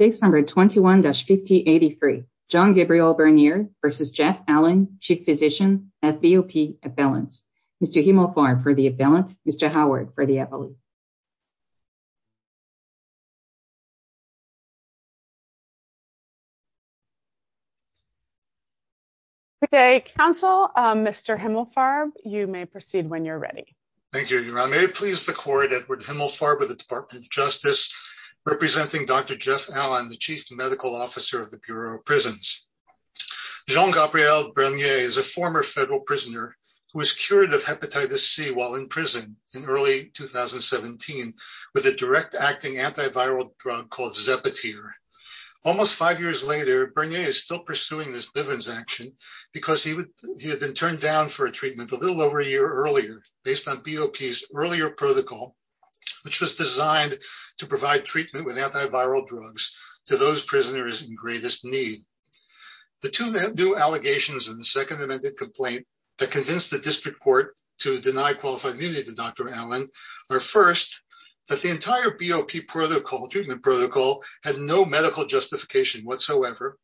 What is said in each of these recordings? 621-5083, John-Gabriel Bernier v. Jeff Allen, Chief Physician, FBOP Appellants. Mr. Himmelfarb for the appellant, Mr. Howard for the appellant. Okay, counsel, Mr. Himmelfarb, you may proceed when you're ready. Thank you, Your Honor. May it please the court, Edward Himmelfarb of the Department of Justice, representing Dr. Jeff Allen, the Chief Medical Officer of the Bureau of Prisons. John-Gabriel Bernier is a former federal prisoner who was cured of hepatitis C while in prison in early 2017 with a direct acting antiviral drug called Zepatier. Almost five years later, Bernier is still pursuing this Bivens action because he had been turned down for a treatment a little over a year earlier based on BOP's earlier protocol, which was designed to provide treatment with antiviral drugs to those prisoners in greatest need. The two new allegations in the second amended complaint that convinced the district court to deny qualified immunity to Dr. Allen are first, that the entire BOP protocol, treatment protocol, had no medical justification whatsoever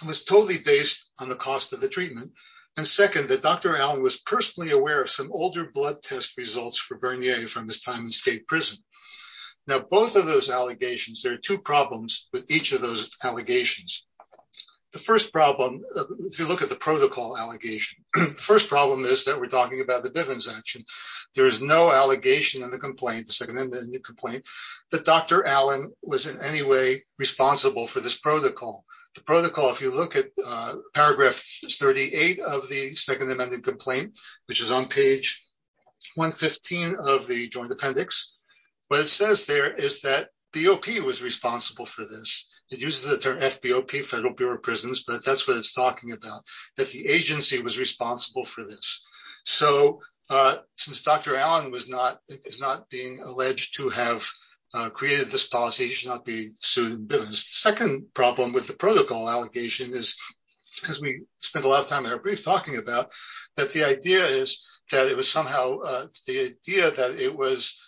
and was totally based on the cost of the treatment. And second, that Dr. Allen was personally aware of some older blood test results for Bernier from his time in state prison. Now, both of those allegations, there are two problems with each of those allegations. The first problem, if you look at the protocol allegation, the first problem is that we're talking about the Bivens action. There is no allegation in the complaint, the second amended complaint, that Dr. Allen was in any way responsible for this protocol. The protocol, if you look at paragraph 38 of the second amended complaint, which is on page 115 of the joint appendix, what it says there is that BOP was responsible for this. It uses the term FBOP, Federal Bureau of Prisons, but that's what it's talking about, that the agency was responsible for this. So since Dr. Allen is not being alleged to have created this policy, he should not be sued in Bivens. Second problem with the protocol allegation is, because we spent a lot of time in our brief talking about, that the idea is that it was somehow, the idea that it was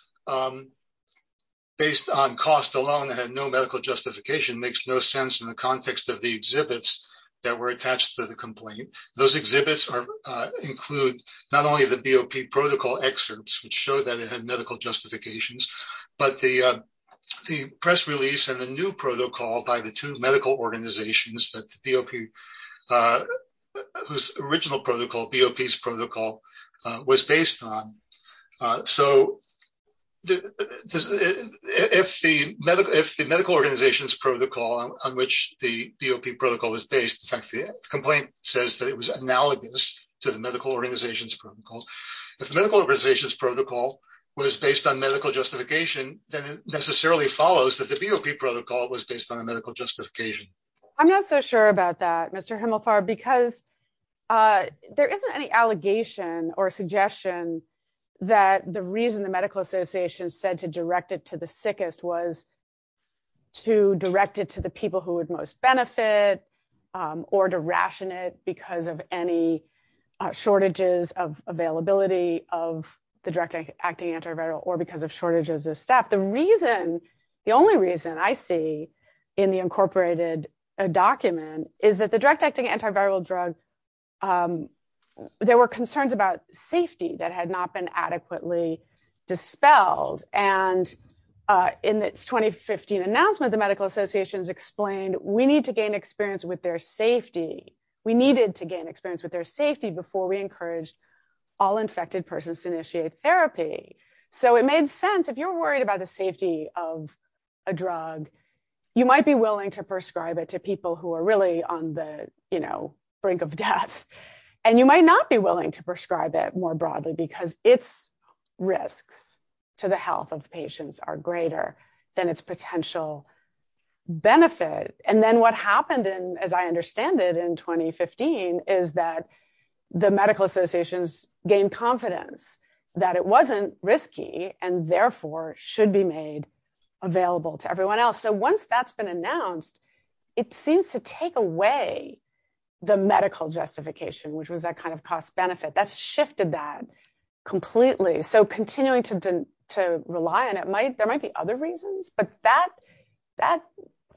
based on cost alone and had no medical justification makes no sense in the context of the exhibits that were attached to the complaint. Those exhibits include not only the BOP protocol excerpts, which show that it had medical justifications, but the press release and the new protocol by the two medical organizations that the BOP, whose original protocol, BOP's protocol was based on. So if the medical organization's protocol on which the BOP protocol was based, in fact, the complaint says that it was analogous to the medical organization's protocols. If the medical organization's protocol was based on medical justification, then it necessarily follows that the BOP protocol was based on a medical justification. I'm not so sure about that, Mr. Himelfar, because there isn't any allegation or suggestion that the reason the medical association said to direct it to the sickest was to direct it to the people who would most benefit or to ration it because of any shortages of availability of the direct acting antiviral or because of shortages of staff. The reason, the only reason I see in the incorporated document is that the direct acting antiviral drug, there were concerns about safety that had not been adequately dispelled. And in its 2015 announcement, the medical associations explained, we need to gain experience with their safety. We needed to gain experience with their safety before we encouraged all infected persons to initiate therapy. So it made sense, if you're worried about the safety of a drug, you might be willing to prescribe it to people who are really on the brink of death. And you might not be willing to prescribe it more broadly because its risks to the health of patients are greater than its potential benefit. And then what happened in, as I understand it in 2015 is that the medical associations gained confidence that it wasn't risky and therefore should be made available to everyone else. So once that's been announced, it seems to take away the medical justification, which was that kind of cost benefit. That's shifted that completely. So continuing to rely on it might, there might be other reasons, but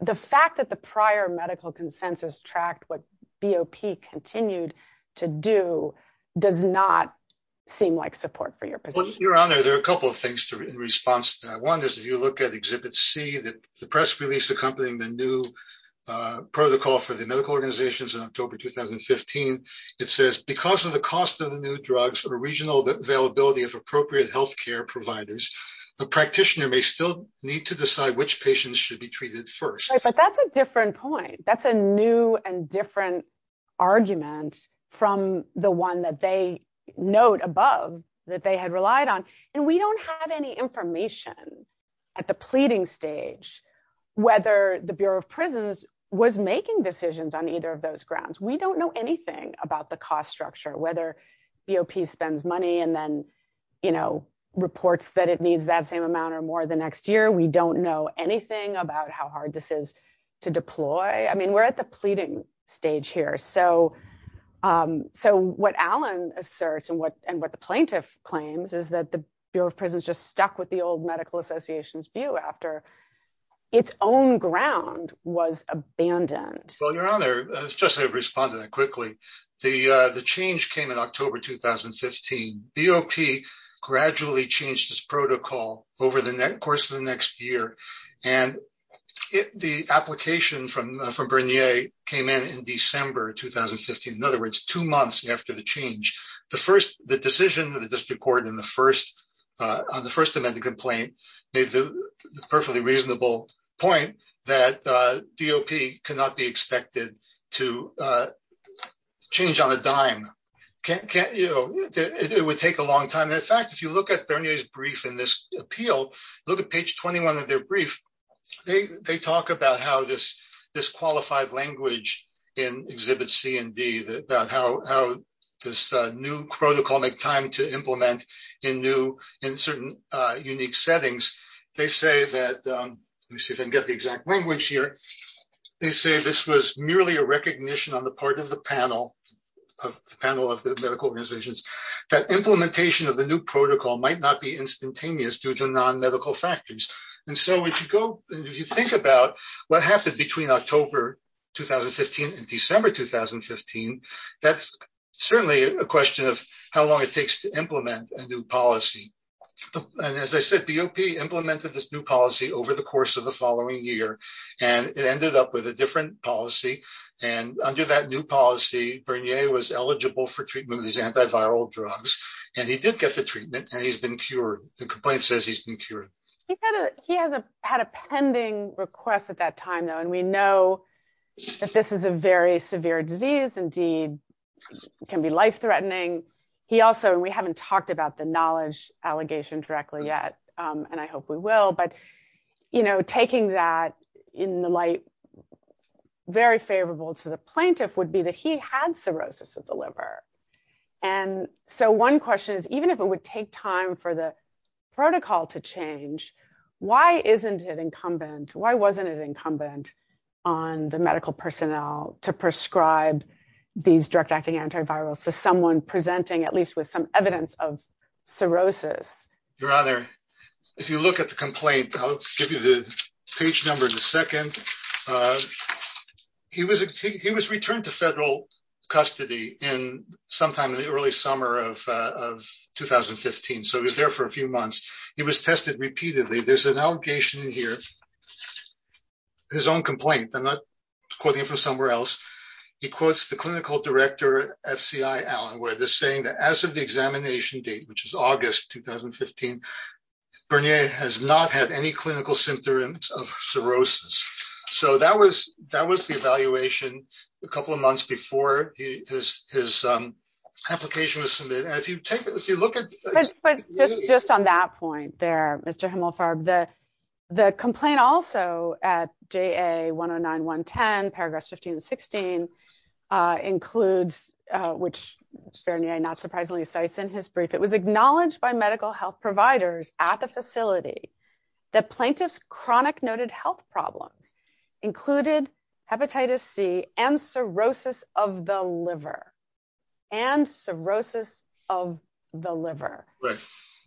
the fact that the prior medical consensus tracked what BOP continued to do does not seem like sufficient support for your position. Well, Your Honor, there are a couple of things in response to that. One is if you look at Exhibit C, the press release accompanying the new protocol for the medical organizations in October, 2015, it says, because of the cost of the new drugs or regional availability of appropriate healthcare providers, a practitioner may still need to decide which patients should be treated first. Right, but that's a different point. That's a new and different argument from the one that they note above that they had relied on. And we don't have any information at the pleading stage, whether the Bureau of Prisons was making decisions on either of those grounds. We don't know anything about the cost structure, whether BOP spends money and then reports that it needs that same amount or more the next year. We don't know anything about how hard this is to deploy. I mean, we're at the pleading stage here. So what Alan asserts and what the plaintiff claims is that the Bureau of Prisons just stuck with the old Medical Association's view after its own ground was abandoned. Well, Your Honor, just to respond to that quickly, the change came in October, 2015. BOP gradually changed its protocol over the course of the next year. And the application from Bernier came in in December, 2015, in other words, two months after the change. The first, the decision that the district court in the first, on the first amendment complaint made the perfectly reasonable point that BOP cannot be expected to change on a dime. Can't, you know, it would take a long time. And in fact, if you look at Bernier's brief in this appeal, look at page 21 of their brief, they talk about how this qualified language in exhibit C and D, that how this new protocol make time to implement in new, in certain unique settings. They say that, let me see if I can get the exact language here. They say this was merely a recognition on the part of the panel, of the panel of the medical organizations, that implementation of the new protocol might not be instantaneous due to non-medical factors. And so if you go, if you think about what happened between October, 2015 and December, 2015, that's certainly a question of how long it takes to implement a new policy. And as I said, BOP implemented this new policy over the course of the following year, and it ended up with a different policy. And under that new policy, Bernier was eligible for treatment with these antiviral drugs. And he did get the treatment and he's been cured. The complaint says he's been cured. He had a pending request at that time though, and we know that this is a very severe disease, indeed can be life-threatening. He also, and we haven't talked about the knowledge allegation directly yet, and I hope we will, but taking that in the light, very favorable to the plaintiff would be that he had cirrhosis of the liver. And so one question is, even if it would take time for the protocol to change, why isn't it incumbent? Why wasn't it incumbent on the medical personnel to prescribe these drug-acting antivirals to someone presenting at least with some evidence of cirrhosis? Your Honor, if you look at the complaint, I'll give you the page number in a second. He was returned to federal custody in sometime in the early summer of 2015. So he was there for a few months. He was tested repeatedly. There's an allegation in here, his own complaint. I'm not quoting him from somewhere else. He quotes the clinical director, FCI Allen, where they're saying that as of the examination date, which is August, 2015, Bernier has not had any clinical symptoms of cirrhosis. So that was the evaluation a couple of months before his application was submitted. If you take it, if you look at- But just on that point there, Mr. Himmelfarb, the complaint also at JA 109, 110, paragraphs 15 and 16 includes, which Bernier not surprisingly cites in his brief, it was acknowledged by medical health providers at the facility that plaintiff's chronic noted health problems included hepatitis C and cirrhosis of the liver and cirrhosis of the liver. Right.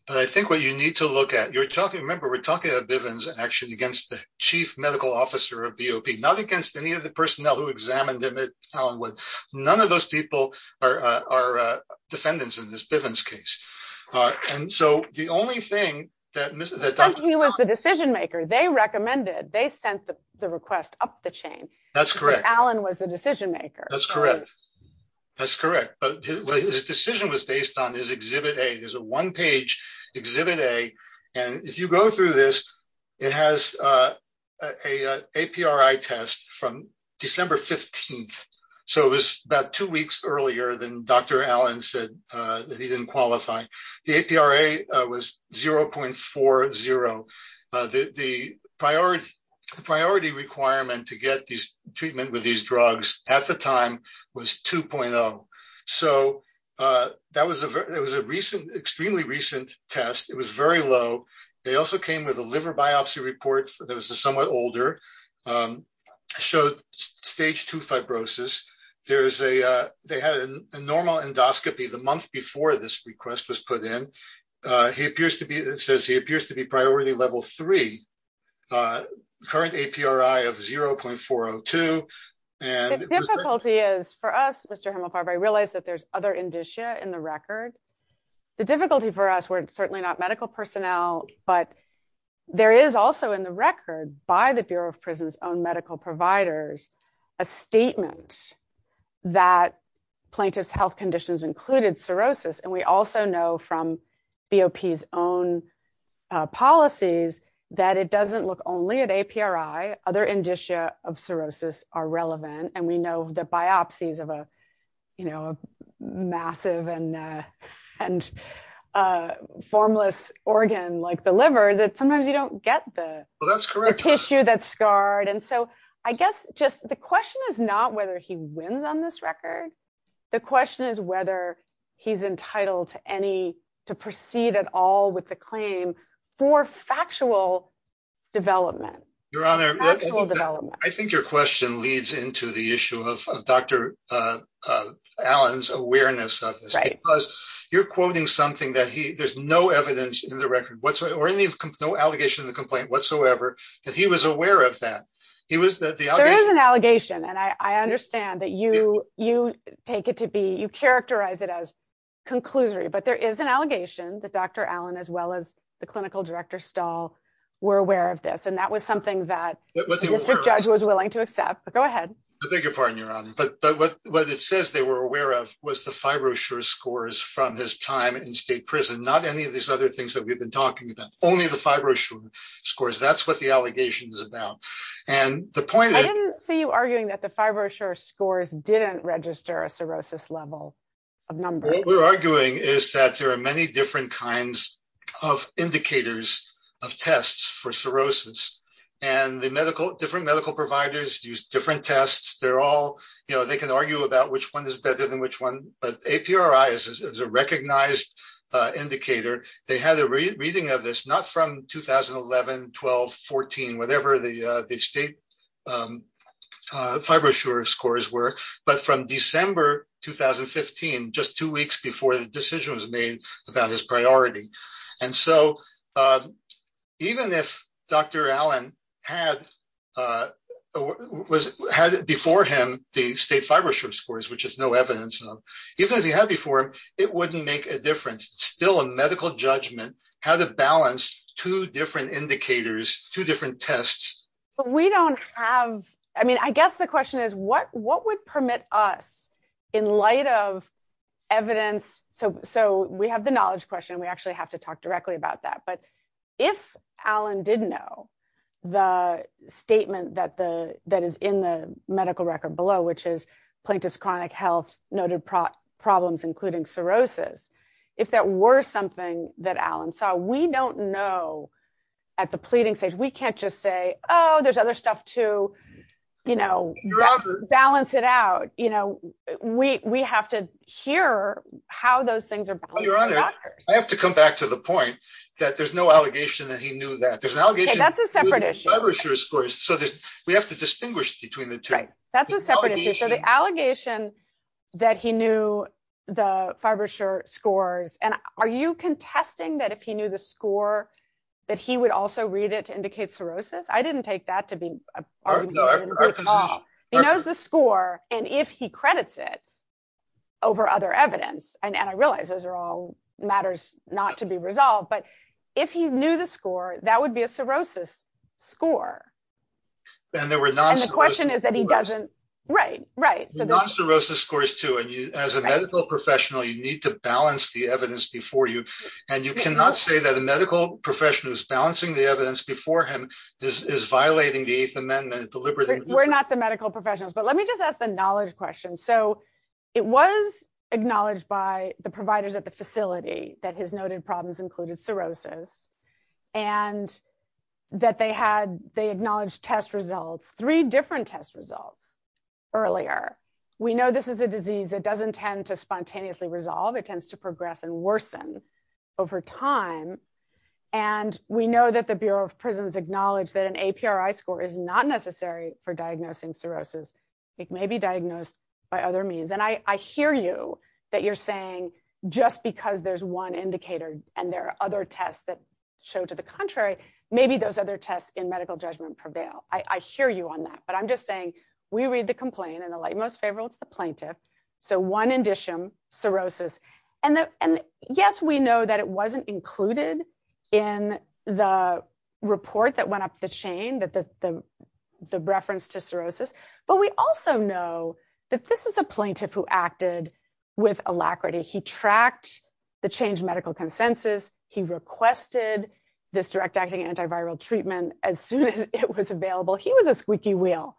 But I think what you need to look at, you're talking, remember, we're talking about Bivens actually against the chief medical officer of BOP, not against any of the personnel who examined him at Allenwood. None of those people are defendants in this Bivens case. And so the only thing that- Because he was the decision maker. They recommended, they sent the request up the chain. That's correct. Because Allen was the decision maker. That's correct. That's correct. But his decision was based on his Exhibit A. There's a one-page Exhibit A. And if you go through this, it has a APRA test from December 15th. So it was about two weeks earlier than Dr. Allen said that he didn't qualify. The APRA was 0.40. The priority requirement to get treatment with these drugs at the time was 2.0. So that was a recent, extremely recent test. It was very low. They also came with a liver biopsy report that was a somewhat older, showed stage two fibrosis. There's a, they had a normal endoscopy the month before this request was put in. He appears to be, it says he appears to be priority level three, current APRA of 0.402. And- The difficulty is for us, Mr. Hemelfarber, I realize that there's other indicia in the record. The difficulty for us, we're certainly not medical personnel, but there is also in the record by the Bureau of Prison's own medical providers, a statement that plaintiff's health conditions included cirrhosis. And we also know from BOP's own policies that it doesn't look only at APRI, other indicia of cirrhosis are relevant. And we know the biopsies of a, you know, a massive and formless organ like the liver, that sometimes you don't get the tissue that's scarred. And so I guess just the question is not whether he wins on this record. The question is whether he's entitled to any, to proceed at all with the claim for factual development. Your Honor- Factual development. I think your question leads into the issue of Dr. Allen's awareness of this. Right. Because you're quoting something that he, there's no evidence in the record whatsoever, or any of, no allegation of the complaint whatsoever, that he was aware of that. He was, that the allegation- There is an allegation, and I understand that you take it to be, you characterize it as conclusory, but there is an allegation that Dr. Allen, as well as the clinical director, Stahl, were aware of this. And that was something that the district judge was willing to accept. But go ahead. I beg your pardon, Your Honor. But what it says they were aware of was the fibrosure scores from his time in state prison. Not any of these other things that we've been talking about. Only the fibrosure scores. That's what the allegation is about. And the point- I didn't see you arguing that the fibrosure scores didn't register a cirrhosis level of number. What we're arguing is that there are many different kinds of indicators of tests for cirrhosis. And the medical, different medical providers use different tests. They're all, you know, they can argue about which one is better than which one. But APRI is a recognized indicator. They had a reading of this, not from 2011, 12, 14, whatever the state fibrosure scores were, but from December, 2015, just two weeks before the decision was made about his priority. And so even if Dr. Allen had before him the state fibrosure scores, which is no evidence of, even if he had before him, it wouldn't make a difference. It's still a medical judgment, how to balance two different indicators, two different tests. But we don't have, I mean, I guess the question is what would permit us in light of evidence? So we have the knowledge question. We actually have to talk directly about that. But if Allen didn't know the statement that is in the medical record below, which is plaintiff's chronic health, noted problems, including cirrhosis, if that were something that Allen saw, we don't know at the pleading stage, we can't just say, oh, there's other stuff too. You know, balance it out. You know, we have to hear how those things are balanced by doctors. I have to come back to the point that there's no allegation that he knew that. There's an allegation- Okay, that's a separate issue. Fibrosure scores. So we have to distinguish between the two. That's a separate issue. So the allegation that he knew the fibrosure scores, and are you contesting that if he knew the score that he would also read it to indicate cirrhosis? I didn't take that to be an argument in court at all. He knows the score, and if he credits it over other evidence, and I realize those are all matters not to be resolved, but if he knew the score, that would be a cirrhosis score. And there were non-cirrhosis scores. And the question is that he doesn't, right, right. So there's- Non-cirrhosis scores too, and as a medical professional, you need to balance the evidence before you. And you cannot say that a medical professional is balancing the evidence before him is violating the Eighth Amendment deliberately. We're not the medical professionals, but let me just ask the knowledge question. So it was acknowledged by the providers at the facility that his noted problems included cirrhosis, and that they had, they acknowledged test results, three different test results earlier. We know this is a disease that doesn't tend to spontaneously resolve. It tends to progress and worsen over time. And we know that the Bureau of Prisons acknowledged that an APRI score is not necessary for diagnosing cirrhosis. It may be diagnosed by other means. And I hear you that you're saying just because there's one indicator and there are other tests that show to the contrary, maybe those other tests in medical judgment prevail. I hear you on that, but I'm just saying, we read the complaint, and the light most favorable, it's the plaintiff. So one indicium, cirrhosis. And yes, we know that it wasn't included in the report that went up the chain, that the reference to cirrhosis, but we also know that this is a plaintiff who acted with alacrity. He tracked the changed medical consensus. He requested this direct acting antiviral treatment as soon as it was available. He was a squeaky wheel.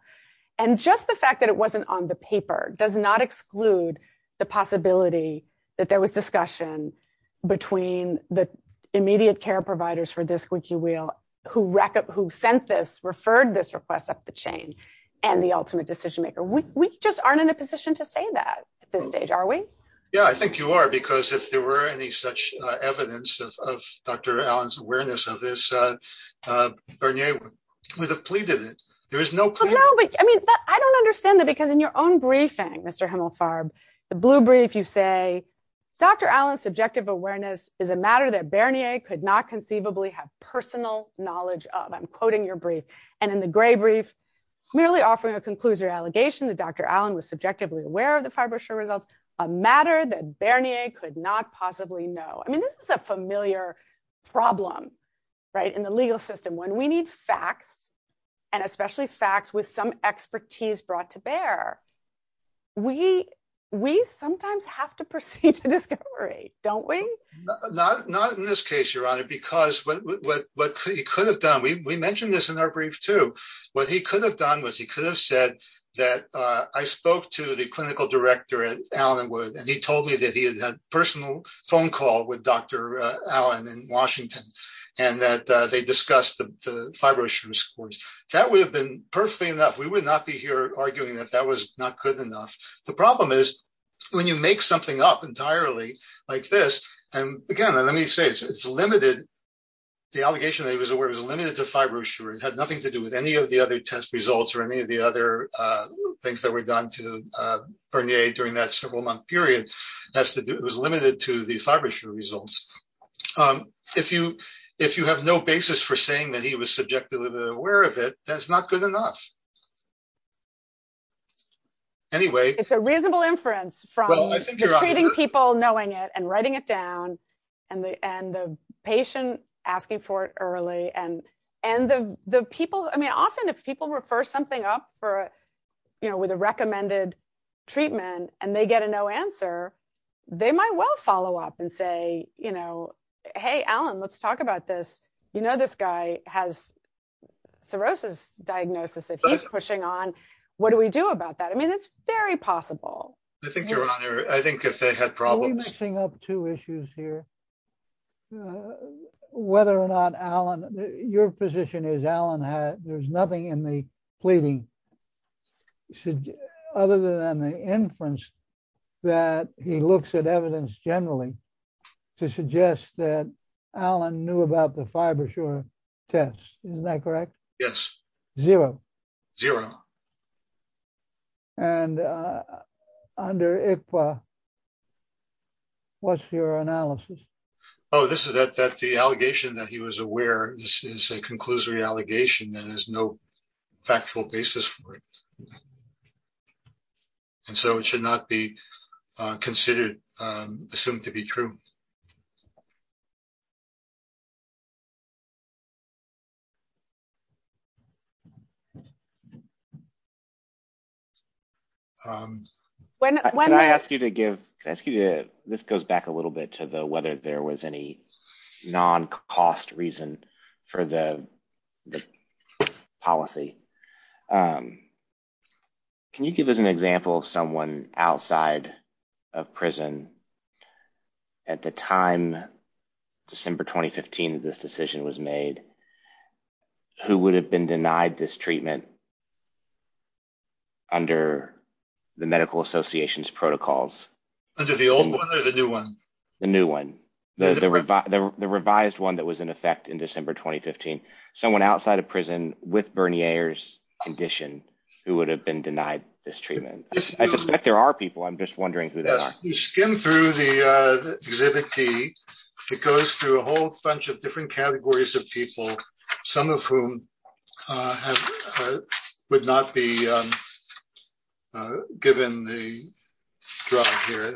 And just the fact that it wasn't on the paper does not exclude the possibility that there was discussion between the immediate care providers for this squeaky wheel who sent this, referred this request up the chain and the ultimate decision-maker. We just aren't in a position to say that at this stage, are we? Yeah, I think you are, because if there were any such evidence of Dr. Allen's awareness of this, Bernier would have pleaded it. There is no plea. Well, no, but I mean, I don't understand that because in your own briefing, Mr. Himmelfarb, the blue brief, you say, Dr. Allen's subjective awareness is a matter that Bernier could not conceivably have personal knowledge of. I'm quoting your brief. And in the gray brief, merely offering a conclusion or allegation that Dr. Allen was subjectively aware of the FibroChir results, a matter that Bernier could not possibly know. I mean, this is a familiar problem, right? In the legal system, when we need facts and especially facts with some expertise brought to bear, we sometimes have to proceed to discovery, don't we? Not in this case, Your Honor, because what he could have done, we mentioned this in our brief too, what he could have done was he could have said that I spoke to the clinical director at Allenwood, and he told me that he had had a personal phone call with Dr. Allen in Washington, and that they discussed the FibroChir scores. That would have been perfectly enough. We would not be here arguing that that was not good enough. The problem is when you make something up entirely like this, and again, let me say, it's limited, the allegation that he was aware is limited to FibroChir. It had nothing to do with any of the other test results or any of the other things that were done to Bernier during that several month period. It was limited to the FibroChir results. If you have no basis for saying that he was subjectively aware of it, that's not good enough. Anyway. It's a reasonable inference from treating people, knowing it, and writing it down, and the patient asking for it early, and the people, I mean, often if people refer something up for, you know, with a recommended treatment, and they get a no answer, they might well follow up and say, you know, hey, Allen, let's talk about this. You know, this guy has cirrhosis diagnosis that he's pushing on. What do we do about that? I mean, it's very possible. I think, Your Honor, I think if they had problems- Are we mixing up two issues here? Whether or not Allen, your position is Allen had, there's nothing in the pleading other than the inference that he looks at evidence generally to suggest that Allen knew about the Fibroshore test. Isn't that correct? Yes. Zero. Zero. And under ICPA, what's your analysis? Oh, this is that the allegation that he was aware is a conclusory allegation that has no factual basis for it. And so it should not be considered, assumed to be true. When- Can I ask you to give, can I ask you to, this goes back a little bit to the whether there was any non-cost reason for the policy. Can you give us an example of someone outside of prison at the time, December, 2015, that this decision was made, who would have been denied this treatment under the medical associations protocols? Under the old one or the new one? The new one. The revised one that was in effect in December, 2015. Someone outside of prison with Bernier condition who would have been denied this treatment? I suspect there are people, I'm just wondering who they are. You skim through the exhibit D, it goes through a whole bunch of different categories of people. Some of whom would not be given the drug here.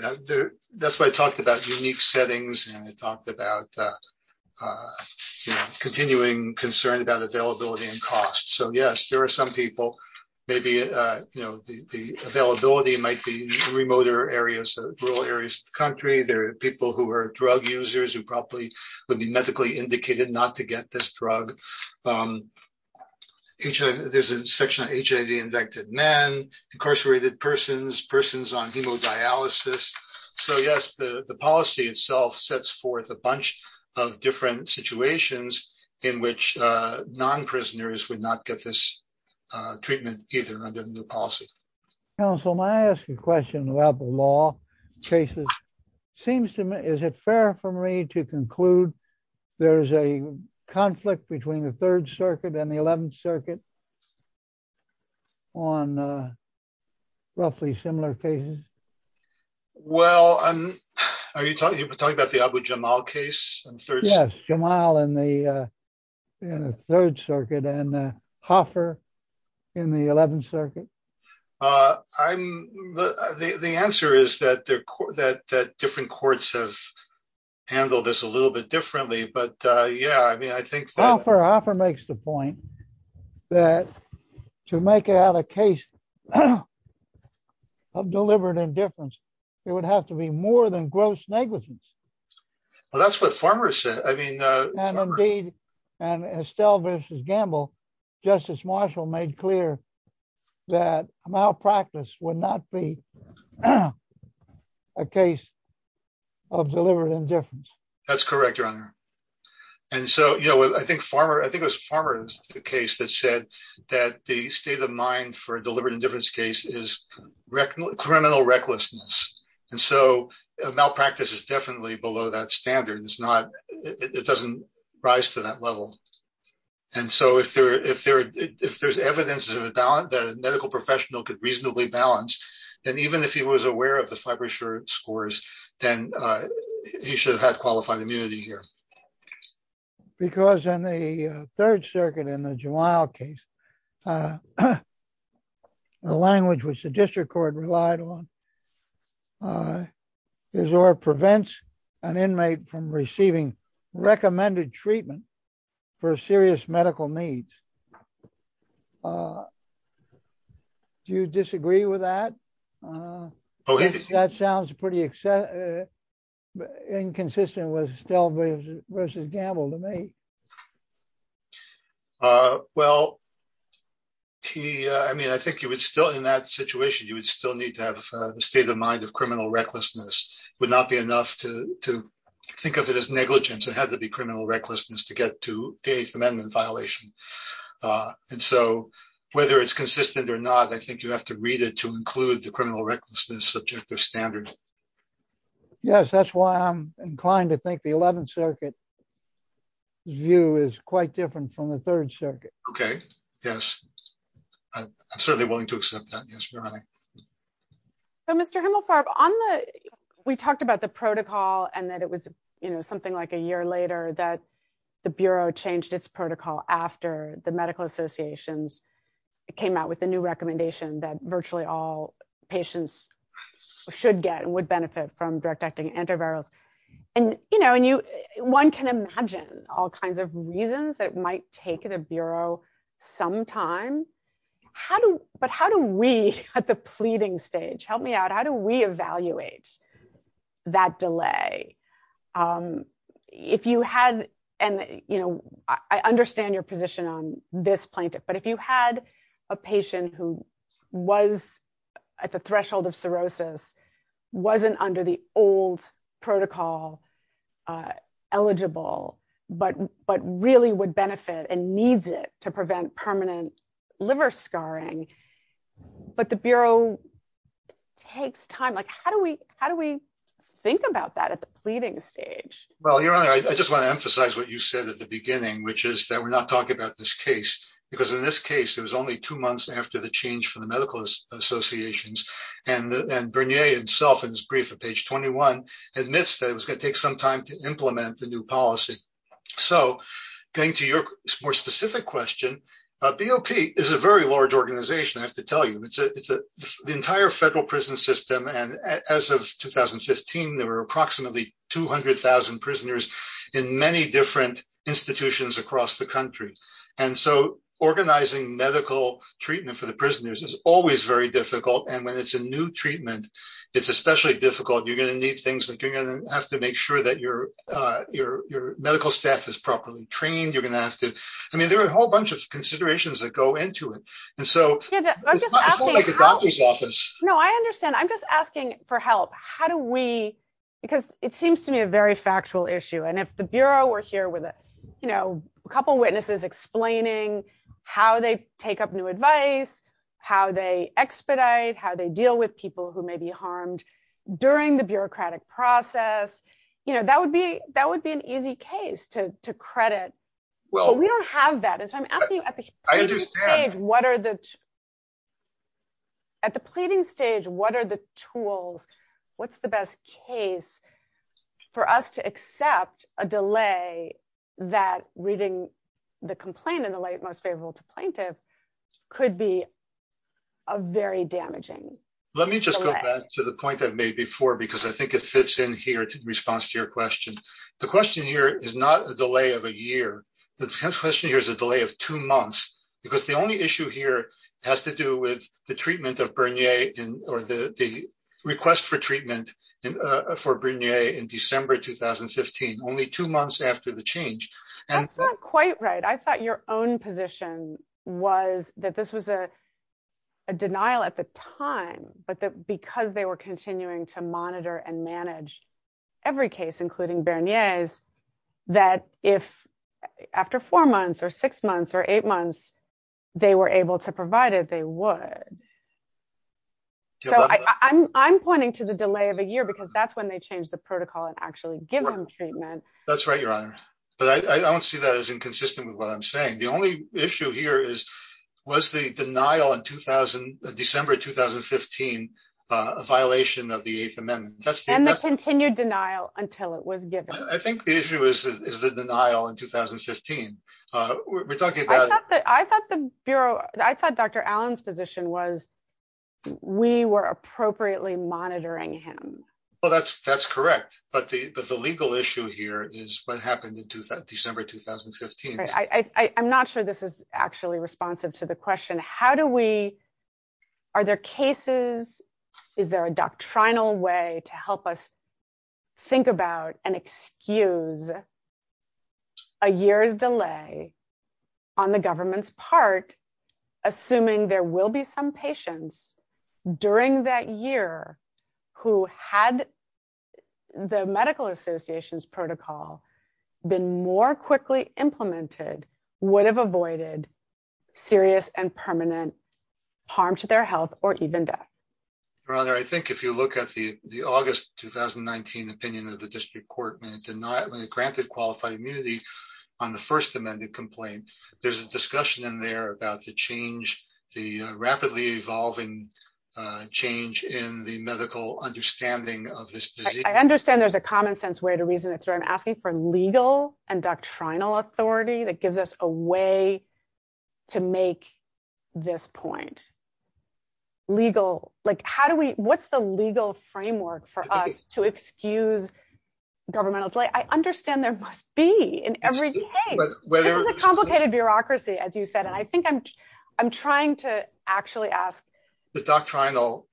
That's why I talked about unique settings and I talked about continuing concern about availability and costs. So yes, there are some people, maybe the availability might be in remoter areas, rural areas of the country. There are people who are drug users who probably would be medically indicated not to get this drug. There's a section on HIV-infected men, incarcerated persons, persons on hemodialysis. So yes, the policy itself sets forth a bunch of different situations in which non-prisoners would not get this treatment either under the new policy. Council, may I ask a question about the law cases? Seems to me, is it fair for me to conclude there's a conflict between the third circuit and the 11th circuit on roughly similar cases? Well, are you talking about the Abu Jamal case? Yes, Jamal in the third circuit and Hoffer in the 11th circuit. The answer is that different courts have handled this a little bit differently, but yeah, I mean, I think that- Well, Hoffer makes the point that to make out a case of deliberate indifference, it would have to be more than gross negligence. Well, that's what Farmer said, I mean- And indeed, and Estelle versus Gamble, Justice Marshall made clear that malpractice would not be a case of deliberate indifference. That's correct, Your Honor. And so, I think it was Farmer's case that said that the state of mind for a deliberate indifference case is criminal recklessness. And so malpractice is definitely below that standard. It doesn't rise to that level. And so, if there's evidence that a medical professional could reasonably balance, then even if he was aware of the Fibershore scores, then he should have had qualified immunity here. Because in the third circuit in the Jamal case, the language which the district court relied on is or prevents an inmate from receiving recommended treatment for serious medical needs. Do you disagree with that? That sounds pretty inconsistent with Estelle versus Gamble to me. Well, I mean, I think you would still, in that situation, you would still need to have a state of mind of criminal recklessness. Would not be enough to think of it as negligence. It had to be criminal recklessness to get to the Eighth Amendment violation. And so, whether it's consistent or not, I think you have to read it to include the criminal recklessness subjective standard. Yes, that's why I'm inclined to think the 11th Circuit view is quite different from the third circuit. Okay, yes. I'm certainly willing to accept that, yes, Your Honor. So, Mr. Himmelfarb, we talked about the protocol and that it was something like a year later that the Bureau changed its protocol after the medical associations came out with a new recommendation that virtually all patients should get and would benefit from direct acting antivirals. And one can imagine all kinds of reasons that might take the Bureau some time. How do, but how do we at the pleading stage, help me out, how do we evaluate that delay? If you had, and, you know, I understand your position on this plaintiff, but if you had a patient who was at the threshold of cirrhosis wasn't under the old protocol eligible, but really would benefit and needs it to prevent permanent liver scarring, but the Bureau takes time, like how do we think about that at the pleading stage? Well, Your Honor, I just wanna emphasize what you said at the beginning, which is that we're not talking about this case because in this case, it was only two months after the change for the medical associations and Bernier himself in his brief at page 21 admits that it was gonna take some time to implement the new policy. So going to your more specific question, BOP is a very large organization. I have to tell you, it's the entire federal prison system. And as of 2015, there were approximately 200,000 prisoners in many different institutions across the country. And so organizing medical treatment for the prisoners is always very difficult. And when it's a new treatment, it's especially difficult. You're gonna need things that you're gonna have to make sure that your medical staff is properly trained. You're gonna have to... I mean, there are a whole bunch of considerations that go into it. And so it's not like a doctor's office. No, I understand. I'm just asking for help. How do we... Because it seems to me a very factual issue. And if the Bureau were here with a couple of witnesses explaining how they take up new advice, how they expedite, how they deal with people who may be harmed during the bureaucratic process, that would be an easy case to credit. Well, we don't have that. And so I'm asking you at the pleading stage, at the pleading stage, what are the tools? What's the best case for us to accept a delay that reading the complaint in the light most favorable to plaintiff could be a very damaging delay. Let me just go back to the point I've made before, because I think it fits in here to the response to your question. The question here is not a delay of a year. The question here is a delay of two months because the only issue here has to do with the treatment of Bernier or the request for treatment for Bernier in December, 2015, only two months after the change. That's not quite right. I thought your own position was that this was a denial at the time, but that because they were continuing to monitor and manage every case, including Bernier's, that if after four months or six months or eight months, they were able to provide it, they would. So I'm pointing to the delay of a year because that's when they changed the protocol and actually give them treatment. That's right, Your Honor. But I don't see that as inconsistent with what I'm saying. The only issue here is, was the denial in December, 2015, a violation of the Eighth Amendment? And the continued denial until it was given. I think the issue is the denial in 2015. I thought Dr. Allen's position was we were appropriately monitoring him. Well, that's correct. But the legal issue here is what happened in December, 2015. I'm not sure this is actually responsive to the question. How do we, are there cases, is there a doctrinal way to help us think about and excuse a year's delay on the government's part, assuming there will be some patients during that year who had the medical association's protocol been more quickly implemented, would have avoided serious and permanent harm to their health or even death? Your Honor, I think if you look at the August, 2019 opinion of the district court when it granted qualified immunity on the First Amendment complaint, there's a discussion in there about the change, the rapidly evolving change in the medical understanding of this disease. I understand there's a common sense way to reason it through. I'm asking for legal and doctrinal authority that gives us a way to make this point. Legal, like how do we, what's the legal framework for us to excuse governmental delay? I understand there must be in every case. This is a complicated bureaucracy, as you said. And I think I'm trying to actually ask. The doctrinal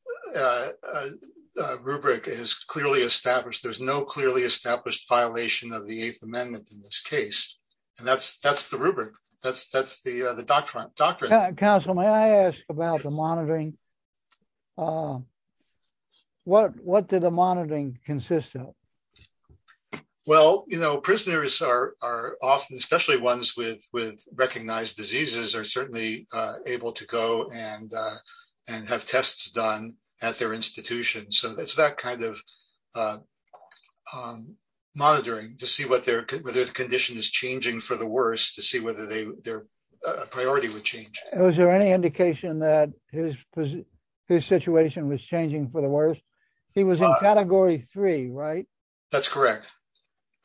rubric is clearly established. There's no clearly established violation of the Eighth Amendment in this case. And that's the rubric. That's the doctrine. Counsel, may I ask about the monitoring? What did the monitoring consist of? Well, prisoners are often, especially ones with recognized diseases are certainly able to go and have tests done at their institution. So it's that kind of monitoring to see whether the condition is changing for the worst, to see whether their priority would change. Was there any indication that his situation was changing for the worst? He was in category three, right? That's correct.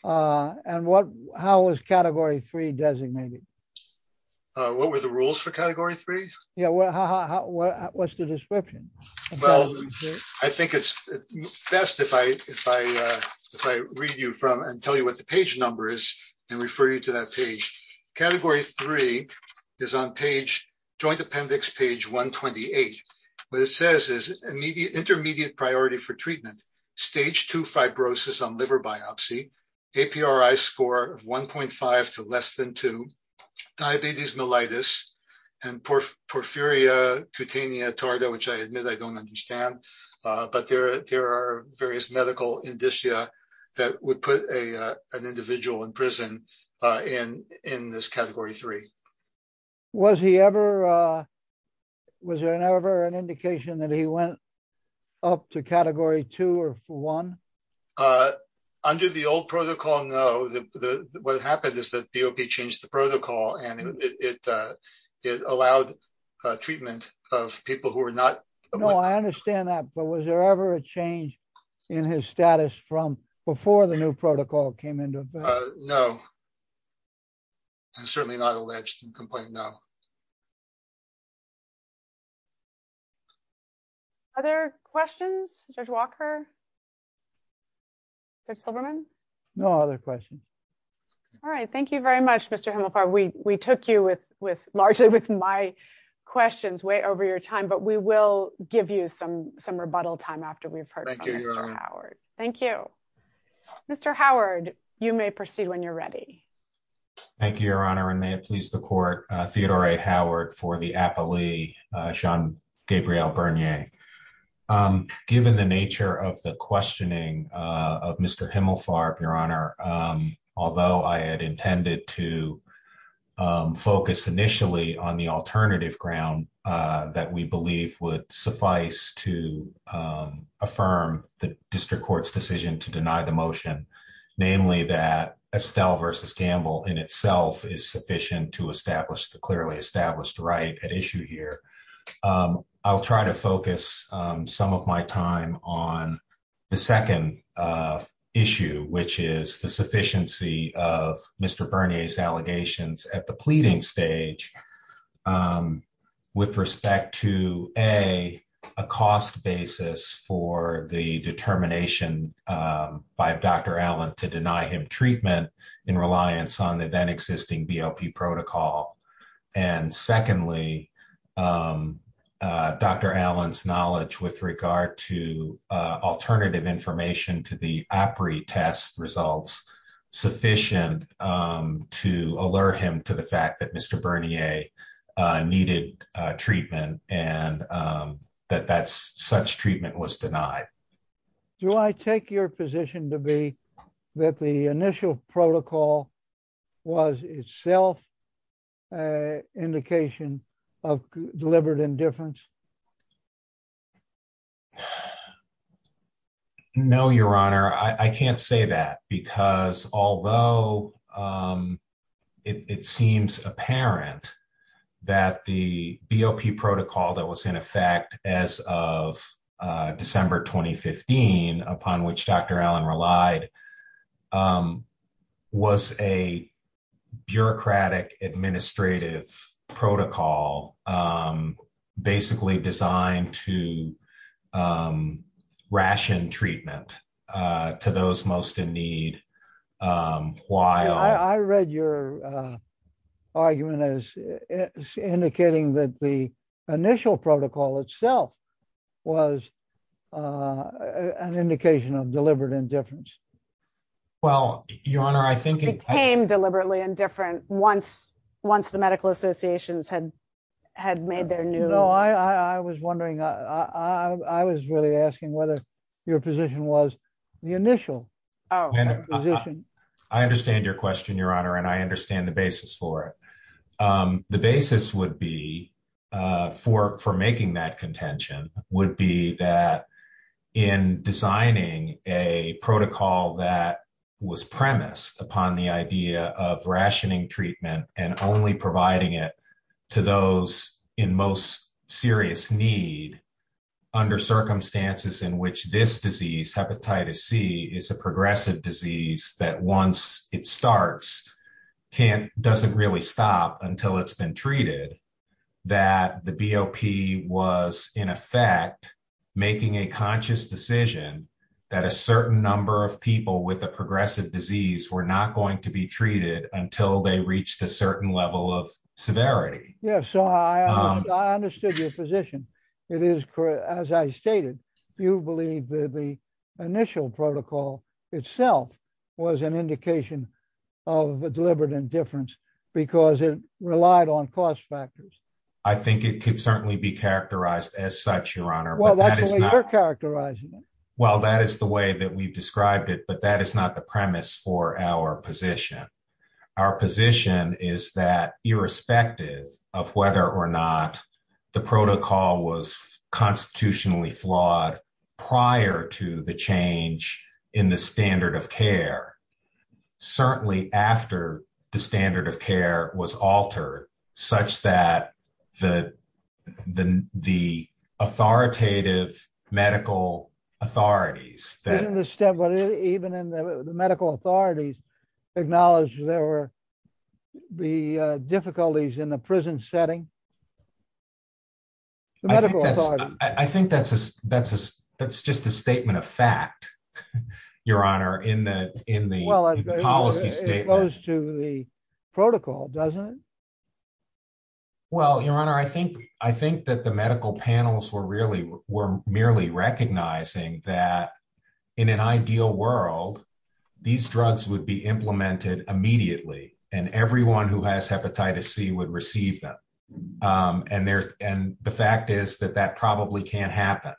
And how was category three designated? What were the rules for category three? Yeah, what's the description? Well, I think it's best if I read you from and tell you what the page number is and refer you to that page. Category three is on page, joint appendix page 128. What it says is intermediate priority for treatment, stage two fibrosis on liver biopsy, APRI score of 1.5 to less than two, diabetes mellitus and porphyria cutanea tarda, which I admit I don't understand, but there are various medical indicia that would put an individual in prison in this category three. Was he ever, was there ever an indication that he went up to category two or one? Under the old protocol, no. What happened is that BOP changed the protocol and it allowed treatment of people who were not- No, I understand that, but was there ever a change in his status from before the new protocol came into effect? No, I'm certainly not alleged in complaint, no. Other questions, Judge Walker? Judge Silberman? No other questions. All right, thank you very much, Mr. Himelfar. We took you with largely with my questions way over your time, but we will give you some rebuttal time after we've heard from Mr. Howard. Thank you. Mr. Howard, you may proceed when you're ready. Thank you, Your Honor, and may it please the court, Theodore A. Howard for the appellee, Jean-Gabriel Bernier. Given the nature of the questioning of Mr. Himelfar, Your Honor, although I had intended to focus initially on the alternative ground that we believe would suffice to affirm the district court's decision to deny the motion, namely that Estelle v. Gamble in itself is sufficient to establish the clearly established right at issue here, I'll try to focus some of my time on the second issue, which is the cost of evidence at the pleading stage with respect to, A, a cost basis for the determination by Dr. Allen to deny him treatment in reliance on the then existing BOP protocol. And secondly, Dr. Allen's knowledge with regard to alternative information to the APRI test results sufficient to alert him to the fact that Mr. Bernier needed treatment and that such treatment was denied. Do I take your position to be that the initial protocol was itself an indication of deliberate indifference? No, Your Honor, I can't say that because although it seems apparent that the BOP protocol that was in effect as of December 2015, upon which Dr. Allen relied, was a bureaucratic administrative protocol basically designed to ration treatment to those most in need while- I read your argument as indicating that the initial protocol itself was an indication of deliberate indifference. Well, Your Honor, I think- It became deliberately indifferent once the medical associations had made their new- No, I was wondering, I was really asking whether your position was the initial position. I understand your question, Your Honor, and I understand the basis for it. The basis would be, for making that contention, would be that in designing a protocol that was premised upon the idea of rationing treatment and only providing it to those in most serious need under circumstances in which this disease, hepatitis C, is a progressive disease that once it starts, doesn't really stop until it's been treated, that the BOP was in effect making a conscious decision that a certain number of people with a progressive disease were not going to be treated until they reached a certain level of severity. Yes, so I understood your position. It is, as I stated, you believe that the initial protocol itself was an indication of a deliberate indifference because it relied on cost factors. I think it could certainly be characterized as such, Your Honor, but that is not- Well, that's the way you're characterizing it. Well, that is the way that we've described it, but that is not the premise for our position. Our position is that irrespective of whether or not the protocol was constitutionally flawed prior to the change in the standard of care, certainly after the standard of care was altered such that the authoritative medical authorities that- Isn't the step, even in the medical authorities acknowledge there were the difficulties in the prison setting? The medical authorities- I think that's just a statement of fact, Your Honor, in the policy statement. It goes to the protocol, doesn't it? Well, Your Honor, I think that the medical panels were merely recognizing that in an ideal world, these drugs would be implemented immediately and everyone who has hepatitis C would receive them. And the fact is that that probably can't happen.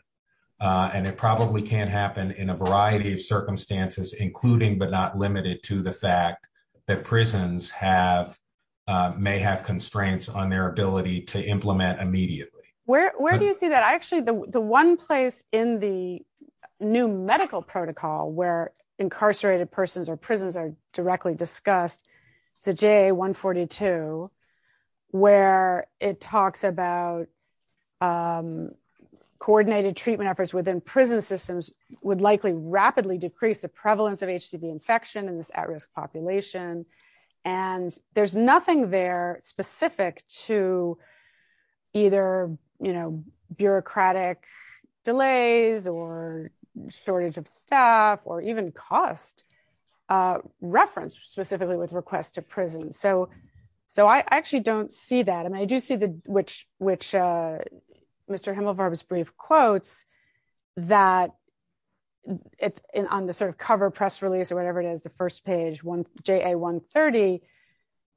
And it probably can't happen in a variety of circumstances, including but not limited to the fact that prisons may have constraints on their ability to implement immediately. Where do you see that? I actually, the one place in the new medical protocol where incarcerated persons or prisons are directly discussed, it's a JA 142, where it talks about coordinated treatment efforts within prison systems would likely rapidly decrease the prevalence of HCV infection in this at-risk population. And there's nothing there specific to either bureaucratic delays or shortage of staff or even cost referenced specifically with requests to prison. So I actually don't see that. And I do see which Mr. Himmelbarb's brief quotes that on the sort of cover press release or whatever it is, the first page, JA 130,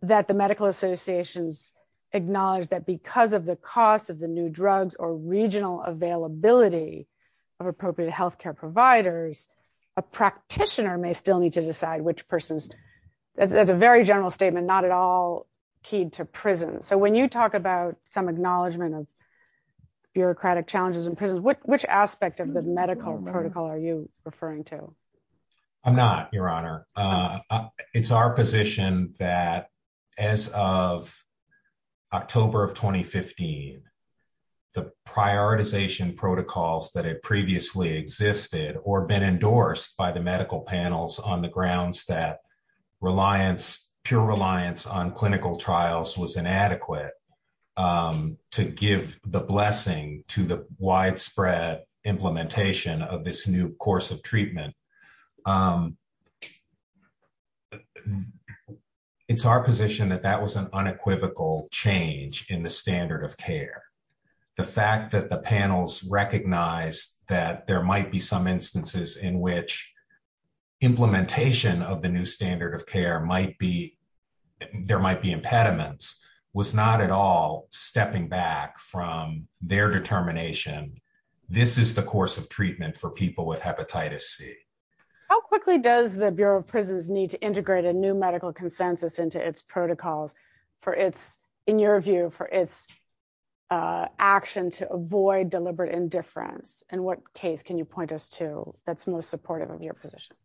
that the medical associations acknowledge that because of the cost of the new drugs or regional availability of appropriate healthcare providers, a practitioner may still need to decide which person's, that's a very general statement, not at all keyed to prison. So when you talk about some acknowledgement of bureaucratic challenges in prisons, which aspect of the medical protocol are you referring to? I'm not, your honor. It's our position that as of October of 2015, the prioritization protocols that had previously existed or been endorsed by the medical panels on the grounds that reliance, pure reliance on clinical trials was inadequate to give the blessing to the widespread implementation of this new course of treatment. It's our position that that was an unequivocal change in the standard of care. The fact that the panels recognized that there might be some instances in which implementation of the new standard of care might be, there might be impediments was not at all stepping back from their determination. This is the course of treatment for people with hepatitis C. How quickly does the Bureau of Prisons need to integrate a new medical consensus into its protocols for its, in your view, for its action to avoid deliberate indifference and what case can you point us to that's most supportive of your position?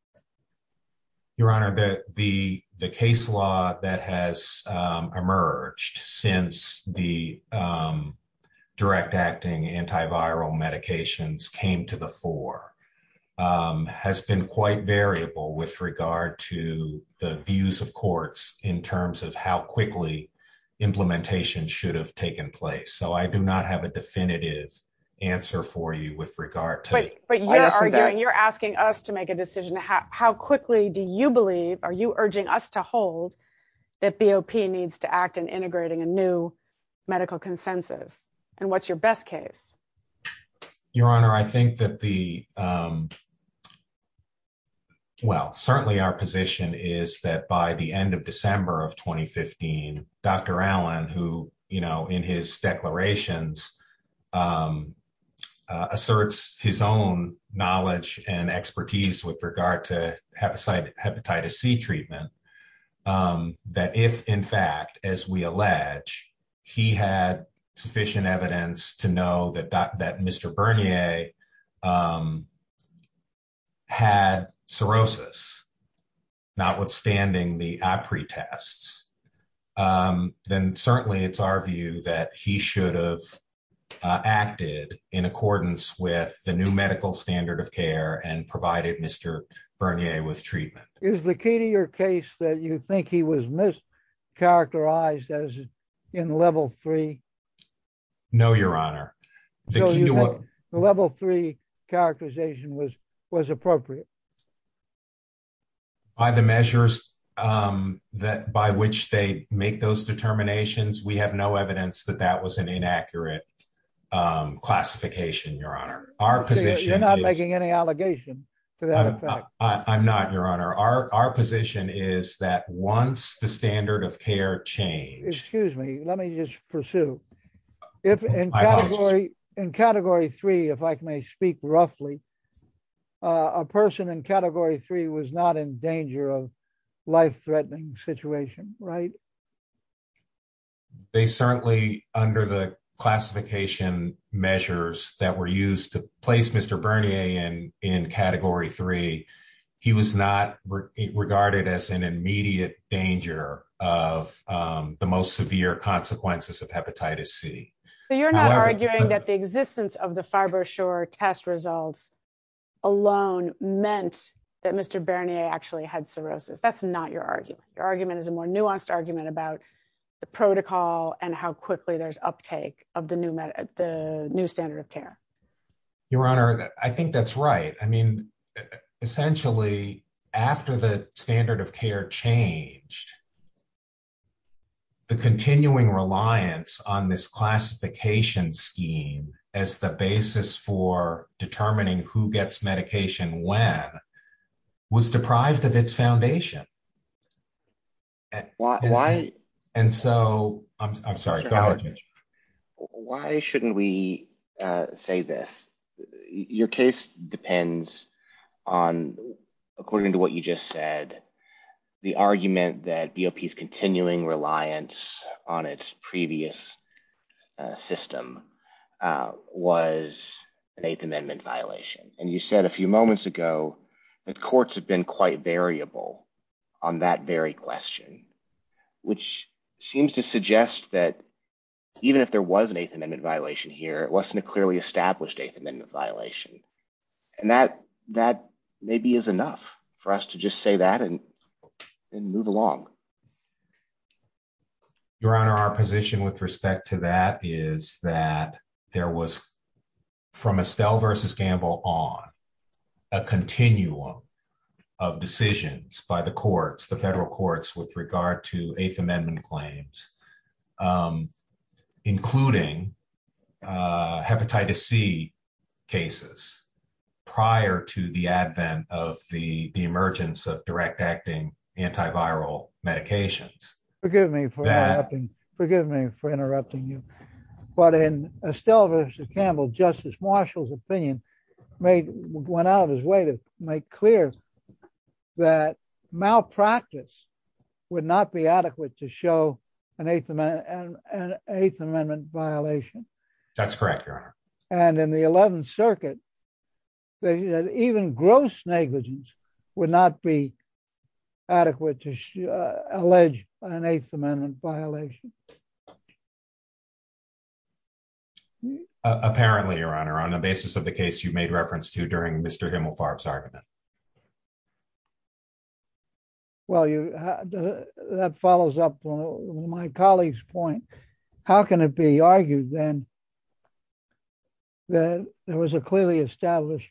Your honor, the case law that has emerged since the direct acting antiviral medications came to the fore has been quite variable with regard to the views of courts in terms of how quickly implementation should have taken place. So I do not have a definitive answer for you with regard to- But you're arguing, you're asking us to make a decision. How quickly do you believe, are you urging us to hold that BOP needs to act in integrating a new medical consensus and what's your best case? Your honor, I think that the, well, certainly our position is that by the end of December of 2015, Dr. Allen, who, you know, in his declarations asserts his own knowledge and expertise with regard to hepatitis C treatment, that if in fact, as we allege, he had sufficient evidence to know that Mr. Bernier had cirrhosis, notwithstanding the APRI tests, then certainly it's our view that he should have acted in accordance with the new medical standard of care and provided Mr. Bernier with treatment. Is the key to your case that you think he was mischaracterized as in level three? No, your honor. The level three characterization was appropriate. By the measures that by which they make those determinations, we have no evidence that that was an inaccurate classification, your honor. Our position is- You're not making any allegation to that effect. I'm not, your honor. Our position is that once the standard of care change- Excuse me, let me just pursue. If in category three, if I may speak roughly, a person in category three was not in danger of life-threatening situation, right? They certainly, under the classification measures that were used to place Mr. Bernier in category three, he was not regarded as an immediate danger of the most severe consequences of hepatitis C. So you're not arguing that the existence of the Fibroshore test results alone meant that Mr. Bernier actually had cirrhosis. That's not your argument. Your argument is a more nuanced argument about the protocol and how quickly there's uptake of the new standard of care. Your honor, I think that's right. I mean, essentially after the standard of care changed, the continuing reliance on this classification scheme as the basis for determining who gets medication when was deprived of its foundation. And so, I'm sorry, go ahead. Why shouldn't we say this? Your case depends on, according to what you just said, the argument that BOP is continuing reliance on its previous system was an Eighth Amendment violation. And you said a few moments ago that courts have been quite variable on that very question, which seems to suggest that even if there was an Eighth Amendment violation here, it wasn't a clearly established Eighth Amendment violation. And that maybe is enough for us to just say that and move along. Your honor, our position with respect to that is that there was, from Estelle versus Gamble on, a continuum of decisions by the courts, the federal courts with regard to Eighth Amendment claims, including hepatitis C cases prior to the advent of the emergence of direct acting antiviral medications. Forgive me for interrupting you. But in Estelle versus Gamble, Justice Marshall's opinion went out of his way to make clear that malpractice would not be adequate to show an Eighth Amendment violation. That's correct, your honor. And in the 11th Circuit, even gross negligence would not be adequate to allege an Eighth Amendment violation. Apparently, your honor, on the basis of the case you made reference to during Mr. Himmelfarb's argument. Well, that follows up on my colleague's point. How can it be argued then that there was a clearly established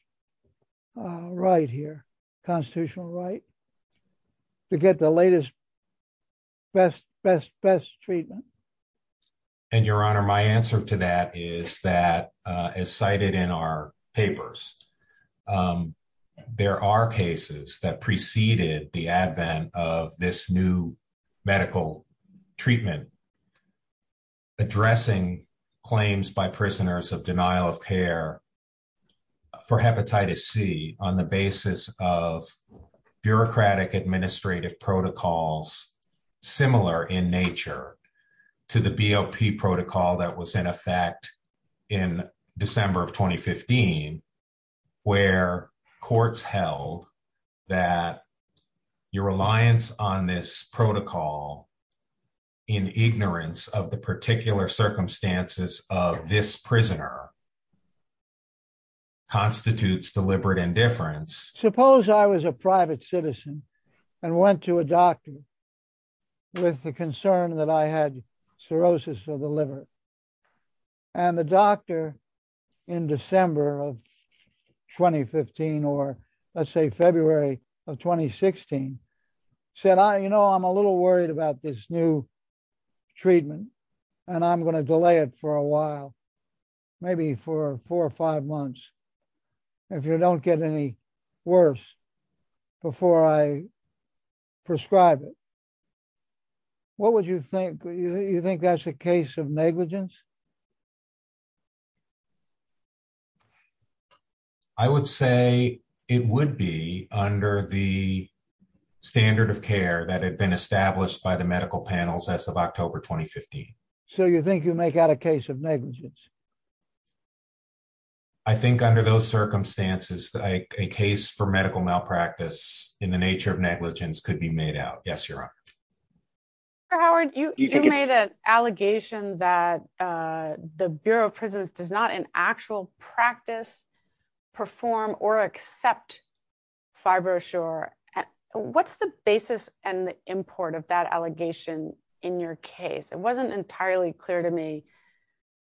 right here? A constitutional right to get the latest best treatment? And your honor, my answer to that is that, as cited in our papers, there are cases that preceded the advent of this new medical treatment addressing claims by prisoners of denial of care for hepatitis C on the basis of bureaucratic administrative protocols similar in nature to the BOP protocol that was in effect in December of 2015, where courts held that your reliance on this protocol in ignorance of the particular circumstances of this prisoner constitutes deliberate indifference. Suppose I was a private citizen and went to a doctor with the concern that I had cirrhosis of the liver. And the doctor in December of 2015, or let's say February of 2016 said, you know, I'm a little worried about this new treatment and I'm gonna delay it for a while, maybe for four or five months, if you don't get any worse before I prescribe it. What would you think? Do you think that's a case of negligence? I would say it would be under the standard of care that had been established by the medical panels as of October, 2015. So you think you make out a case of negligence? I think under those circumstances, a case for medical malpractice in the nature of negligence could be made out. Yes, Your Honor. Mr. Howard, you made an allegation that the Bureau of Prisons does not in actual practice perform or accept Fibroshore. What's the basis and the import of that allegation in your case? It wasn't entirely clear to me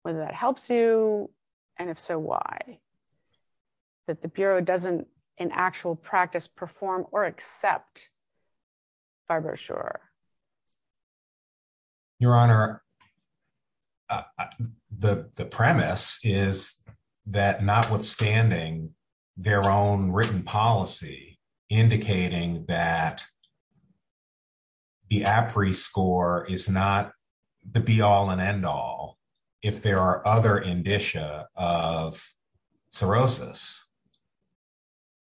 whether that helps you and if so, why? That the Bureau doesn't in actual practice perform or accept Fibroshore. Your Honor, the premise is that notwithstanding their own written policy indicating that the APRI score is not the be all and end all if there are other indicia of cirrhosis.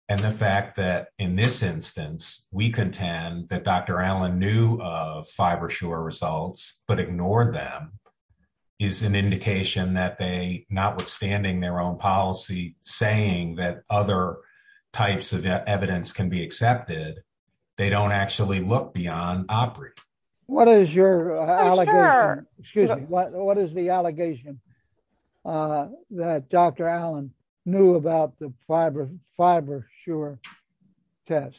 And the fact that in this instance, we contend that Dr. Allen knew of Fibroshore results but ignored them is an indication that they notwithstanding their own policy saying that other types of evidence can be accepted, they don't actually look beyond APRI. What is your allegation? Excuse me. What is the allegation that Dr. Allen knew about the Fibroshore test?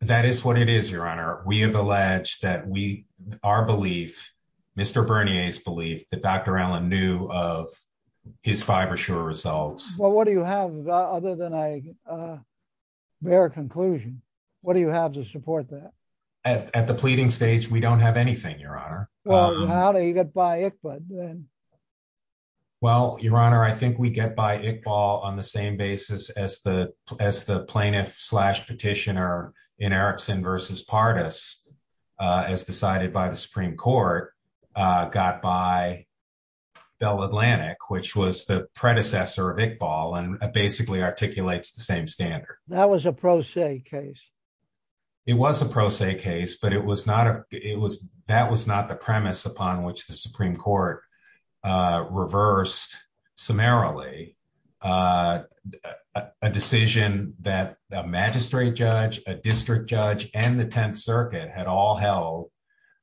That is what it is, Your Honor. We have alleged that our belief, Mr. Bernier's belief that Dr. Allen knew of his Fibroshore results. Well, what do you have other than a bare conclusion? What do you have to support that? At the pleading stage, we don't have anything, Your Honor. Well, how do you get by Iqbal then? Well, Your Honor, I think we get by Iqbal on the same basis as the plaintiff slash petitioner in Erickson versus Pardis as decided by the Supreme Court got by Bell Atlantic, which was the predecessor of Iqbal and basically articulates the same standard. That was a pro se case. It was a pro se case, but that was not the premise upon which the Supreme Court reversed summarily a decision that the magistrate judge, a district judge and the 10th circuit had all held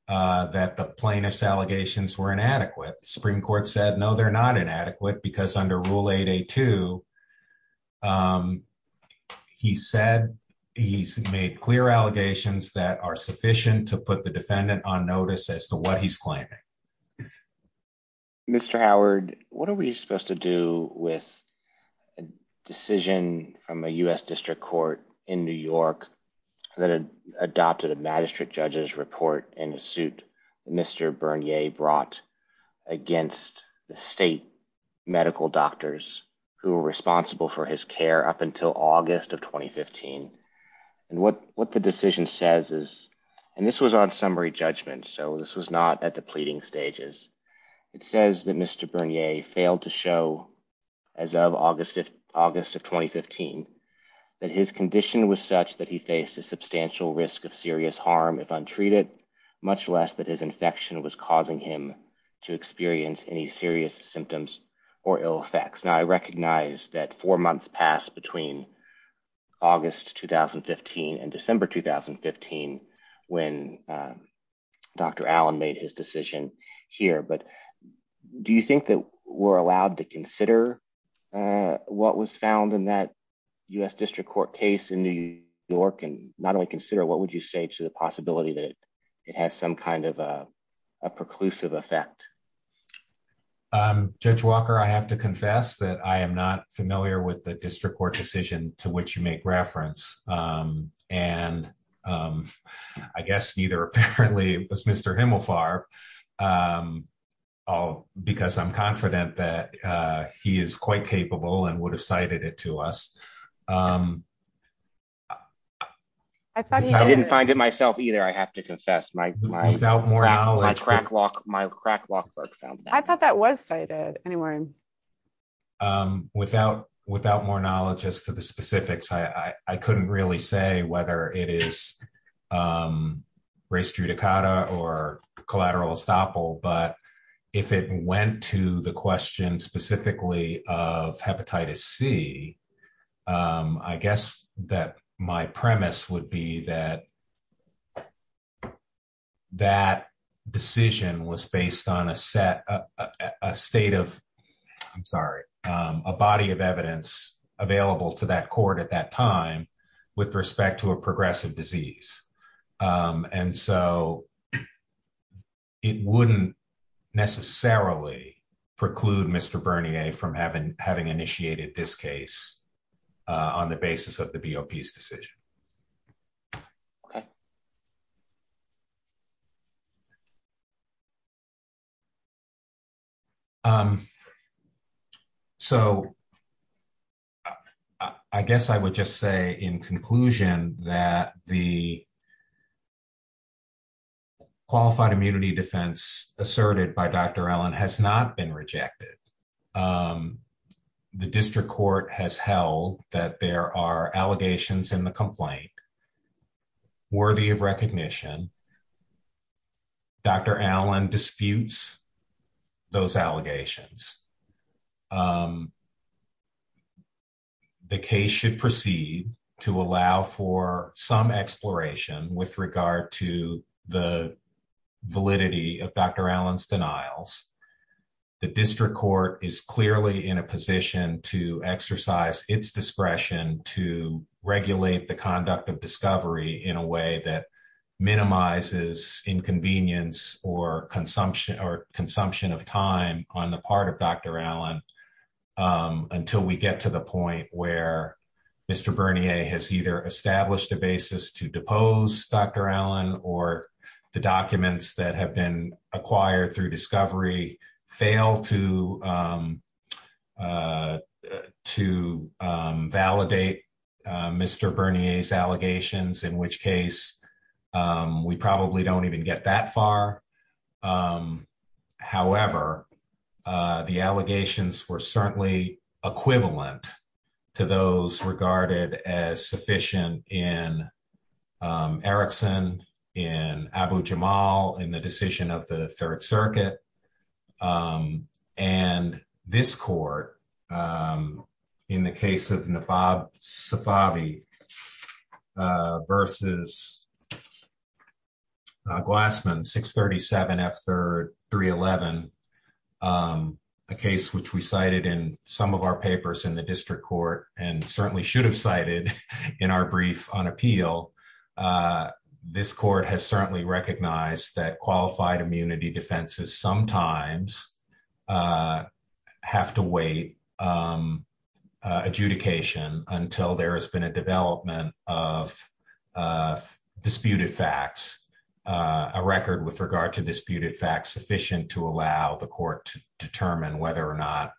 that the plaintiff's allegations were inadequate. Supreme Court said, no, they're not inadequate because under rule 8A2, he said he's made clear allegations that are sufficient to put the defendant on notice as to what he's claiming. Mr. Howard, what are we supposed to do with a decision from a U.S. district court in New York that had adopted a magistrate judge's report and a suit Mr. Bernier brought against the state medical doctors who were responsible for his care up until August of 2015. And what the decision says is, and this was on summary judgment. So this was not at the pleading stages. It says that Mr. Bernier failed to show as of August of 2015, that his condition was such that he faced a substantial risk of serious harm if untreated, much less that his infection was causing him to experience any serious symptoms or ill effects. Now I recognize that four months passed between August, 2015 and December, 2015 when Dr. Allen made his decision here. But do you think that we're allowed to consider what was found in that U.S. district court case in New York and not only consider, what would you say to the possibility that it has some kind of a preclusive effect? Judge Walker, I have to confess that I am not familiar with the district court decision to which you make reference and I guess neither apparently was Mr. Himmelfarb because I'm confident that he is quite capable and would have cited it to us. I didn't find it myself either, I have to confess. My crack lock work found that. I thought that was cited. Anyway. Without more knowledge as to the specifics, I couldn't really say whether it is res judicata or collateral estoppel, but if it went to the question specifically of hepatitis C, I guess that my premise would be that that decision was based on a set, a state of, I'm sorry, a body of evidence available to that court at that time with respect to a progressive disease. And so it wouldn't necessarily preclude Mr. Bernier from having initiated this case on the basis of the BOP's decision. Okay. So I guess I would just say in conclusion that the qualified immunity defense asserted by Dr. Allen has not been rejected. The district court has held that there are allegations in the complaint worthy of recognition. Dr. Allen disputes those allegations. The case should proceed to allow for some exploration with regard to the validity of Dr. Allen's denials. The district court is clearly in a position to exercise its discretion to regulate the conduct of discovery in a way that minimizes inconvenience or consumption of time on the part of Dr. Allen until we get to the point where Mr. Bernier has either established a basis to depose Dr. Allen or the documents that have been acquired through discovery fail to validate Mr. Bernier's allegations, in which case we probably don't even get that far. However, the allegations were certainly equivalent to those regarded as sufficient in Erickson, in Abu-Jamal, in the decision of the Third Circuit. And this court in the case of Nafab Safavi versus Glassman 637 F3-311, a case which we cited in some of our papers in the district court and certainly should have cited in our brief on appeal. This court has certainly recognized that qualified immunity defenses sometimes have to wait adjudication until there has been a development of disputed facts, a record with regard to disputed facts sufficient to allow the court to determine whether or not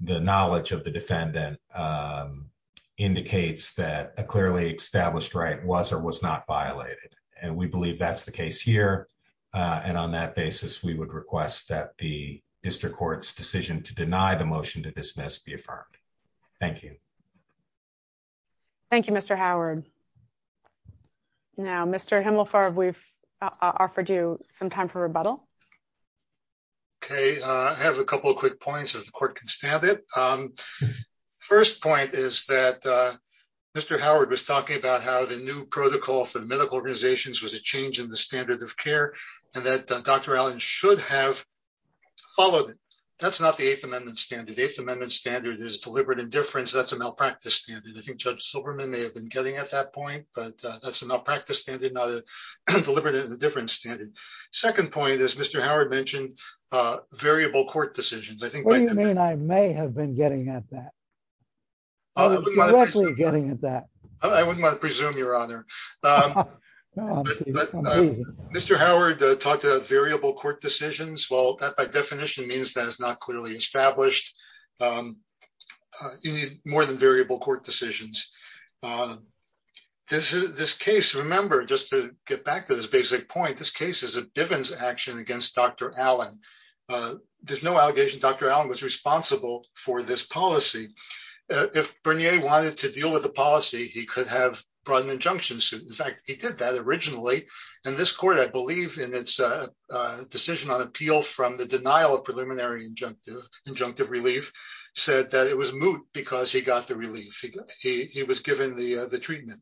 the knowledge of the defendant indicates that a clearly established right was or was not violated. And we believe that's the case here. And on that basis, we would request that the district court's decision to deny the motion to dismiss be affirmed. Thank you. Thank you, Mr. Howard. Now, Mr. Himmelfarb, we've offered you some time for rebuttal. Okay, I have a couple of quick points if the court can stand it. First point is that Mr. Howard was talking about how the new protocol for the medical organizations was a change in the standard of care and that Dr. Allen should have followed it. That's not the Eighth Amendment standard. Eighth Amendment standard is deliberate indifference. That's a malpractice standard. I think Judge Silberman may have been getting at that point, but that's a malpractice standard, not a deliberate indifference standard. Second point is Mr. Howard mentioned variable court decisions. What do you mean I may have been getting at that? I was directly getting at that. I wouldn't want to presume, Your Honor. Mr. Howard talked about variable court decisions. Well, that by definition means that it's not clearly established. You need more than variable court decisions. This case, remember, just to get back to this basic point, this case is a Bivens action against Dr. Allen. There's no allegation Dr. Allen was responsible for this policy. If Bernier wanted to deal with the policy, he could have brought an injunction suit. In fact, he did that originally. And this court, I believe in its decision on appeal from the denial of preliminary injunctive relief said that it was moot because he got the relief. He was given the treatment.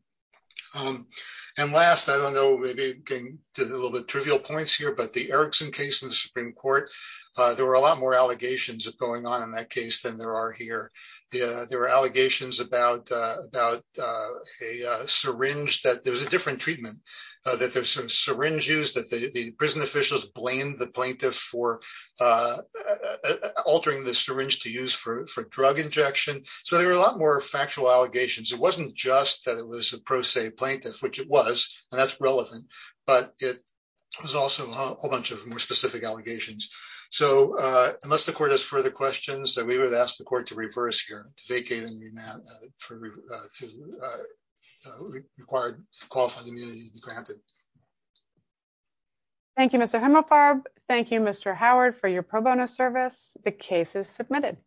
And last, I don't know, maybe getting to a little bit trivial points here, but the Erickson case in the Supreme Court, there were a lot more allegations going on in that case than there are here. There were allegations about a syringe that there was a different treatment, that there was some syringe used, that the prison officials blamed the plaintiff for altering the syringe to use for drug injection. So there were a lot more factual allegations. It wasn't just that it was a pro se plaintiff, which it was, and that's relevant, but it was also a whole bunch of more specific allegations. So unless the court has further questions, then we would ask the court to reverse here, to vacate and remand for required qualified immunity to be granted. Thank you, Mr. Himelfarb. Thank you, Mr. Howard, for your pro bono service. The case is submitted.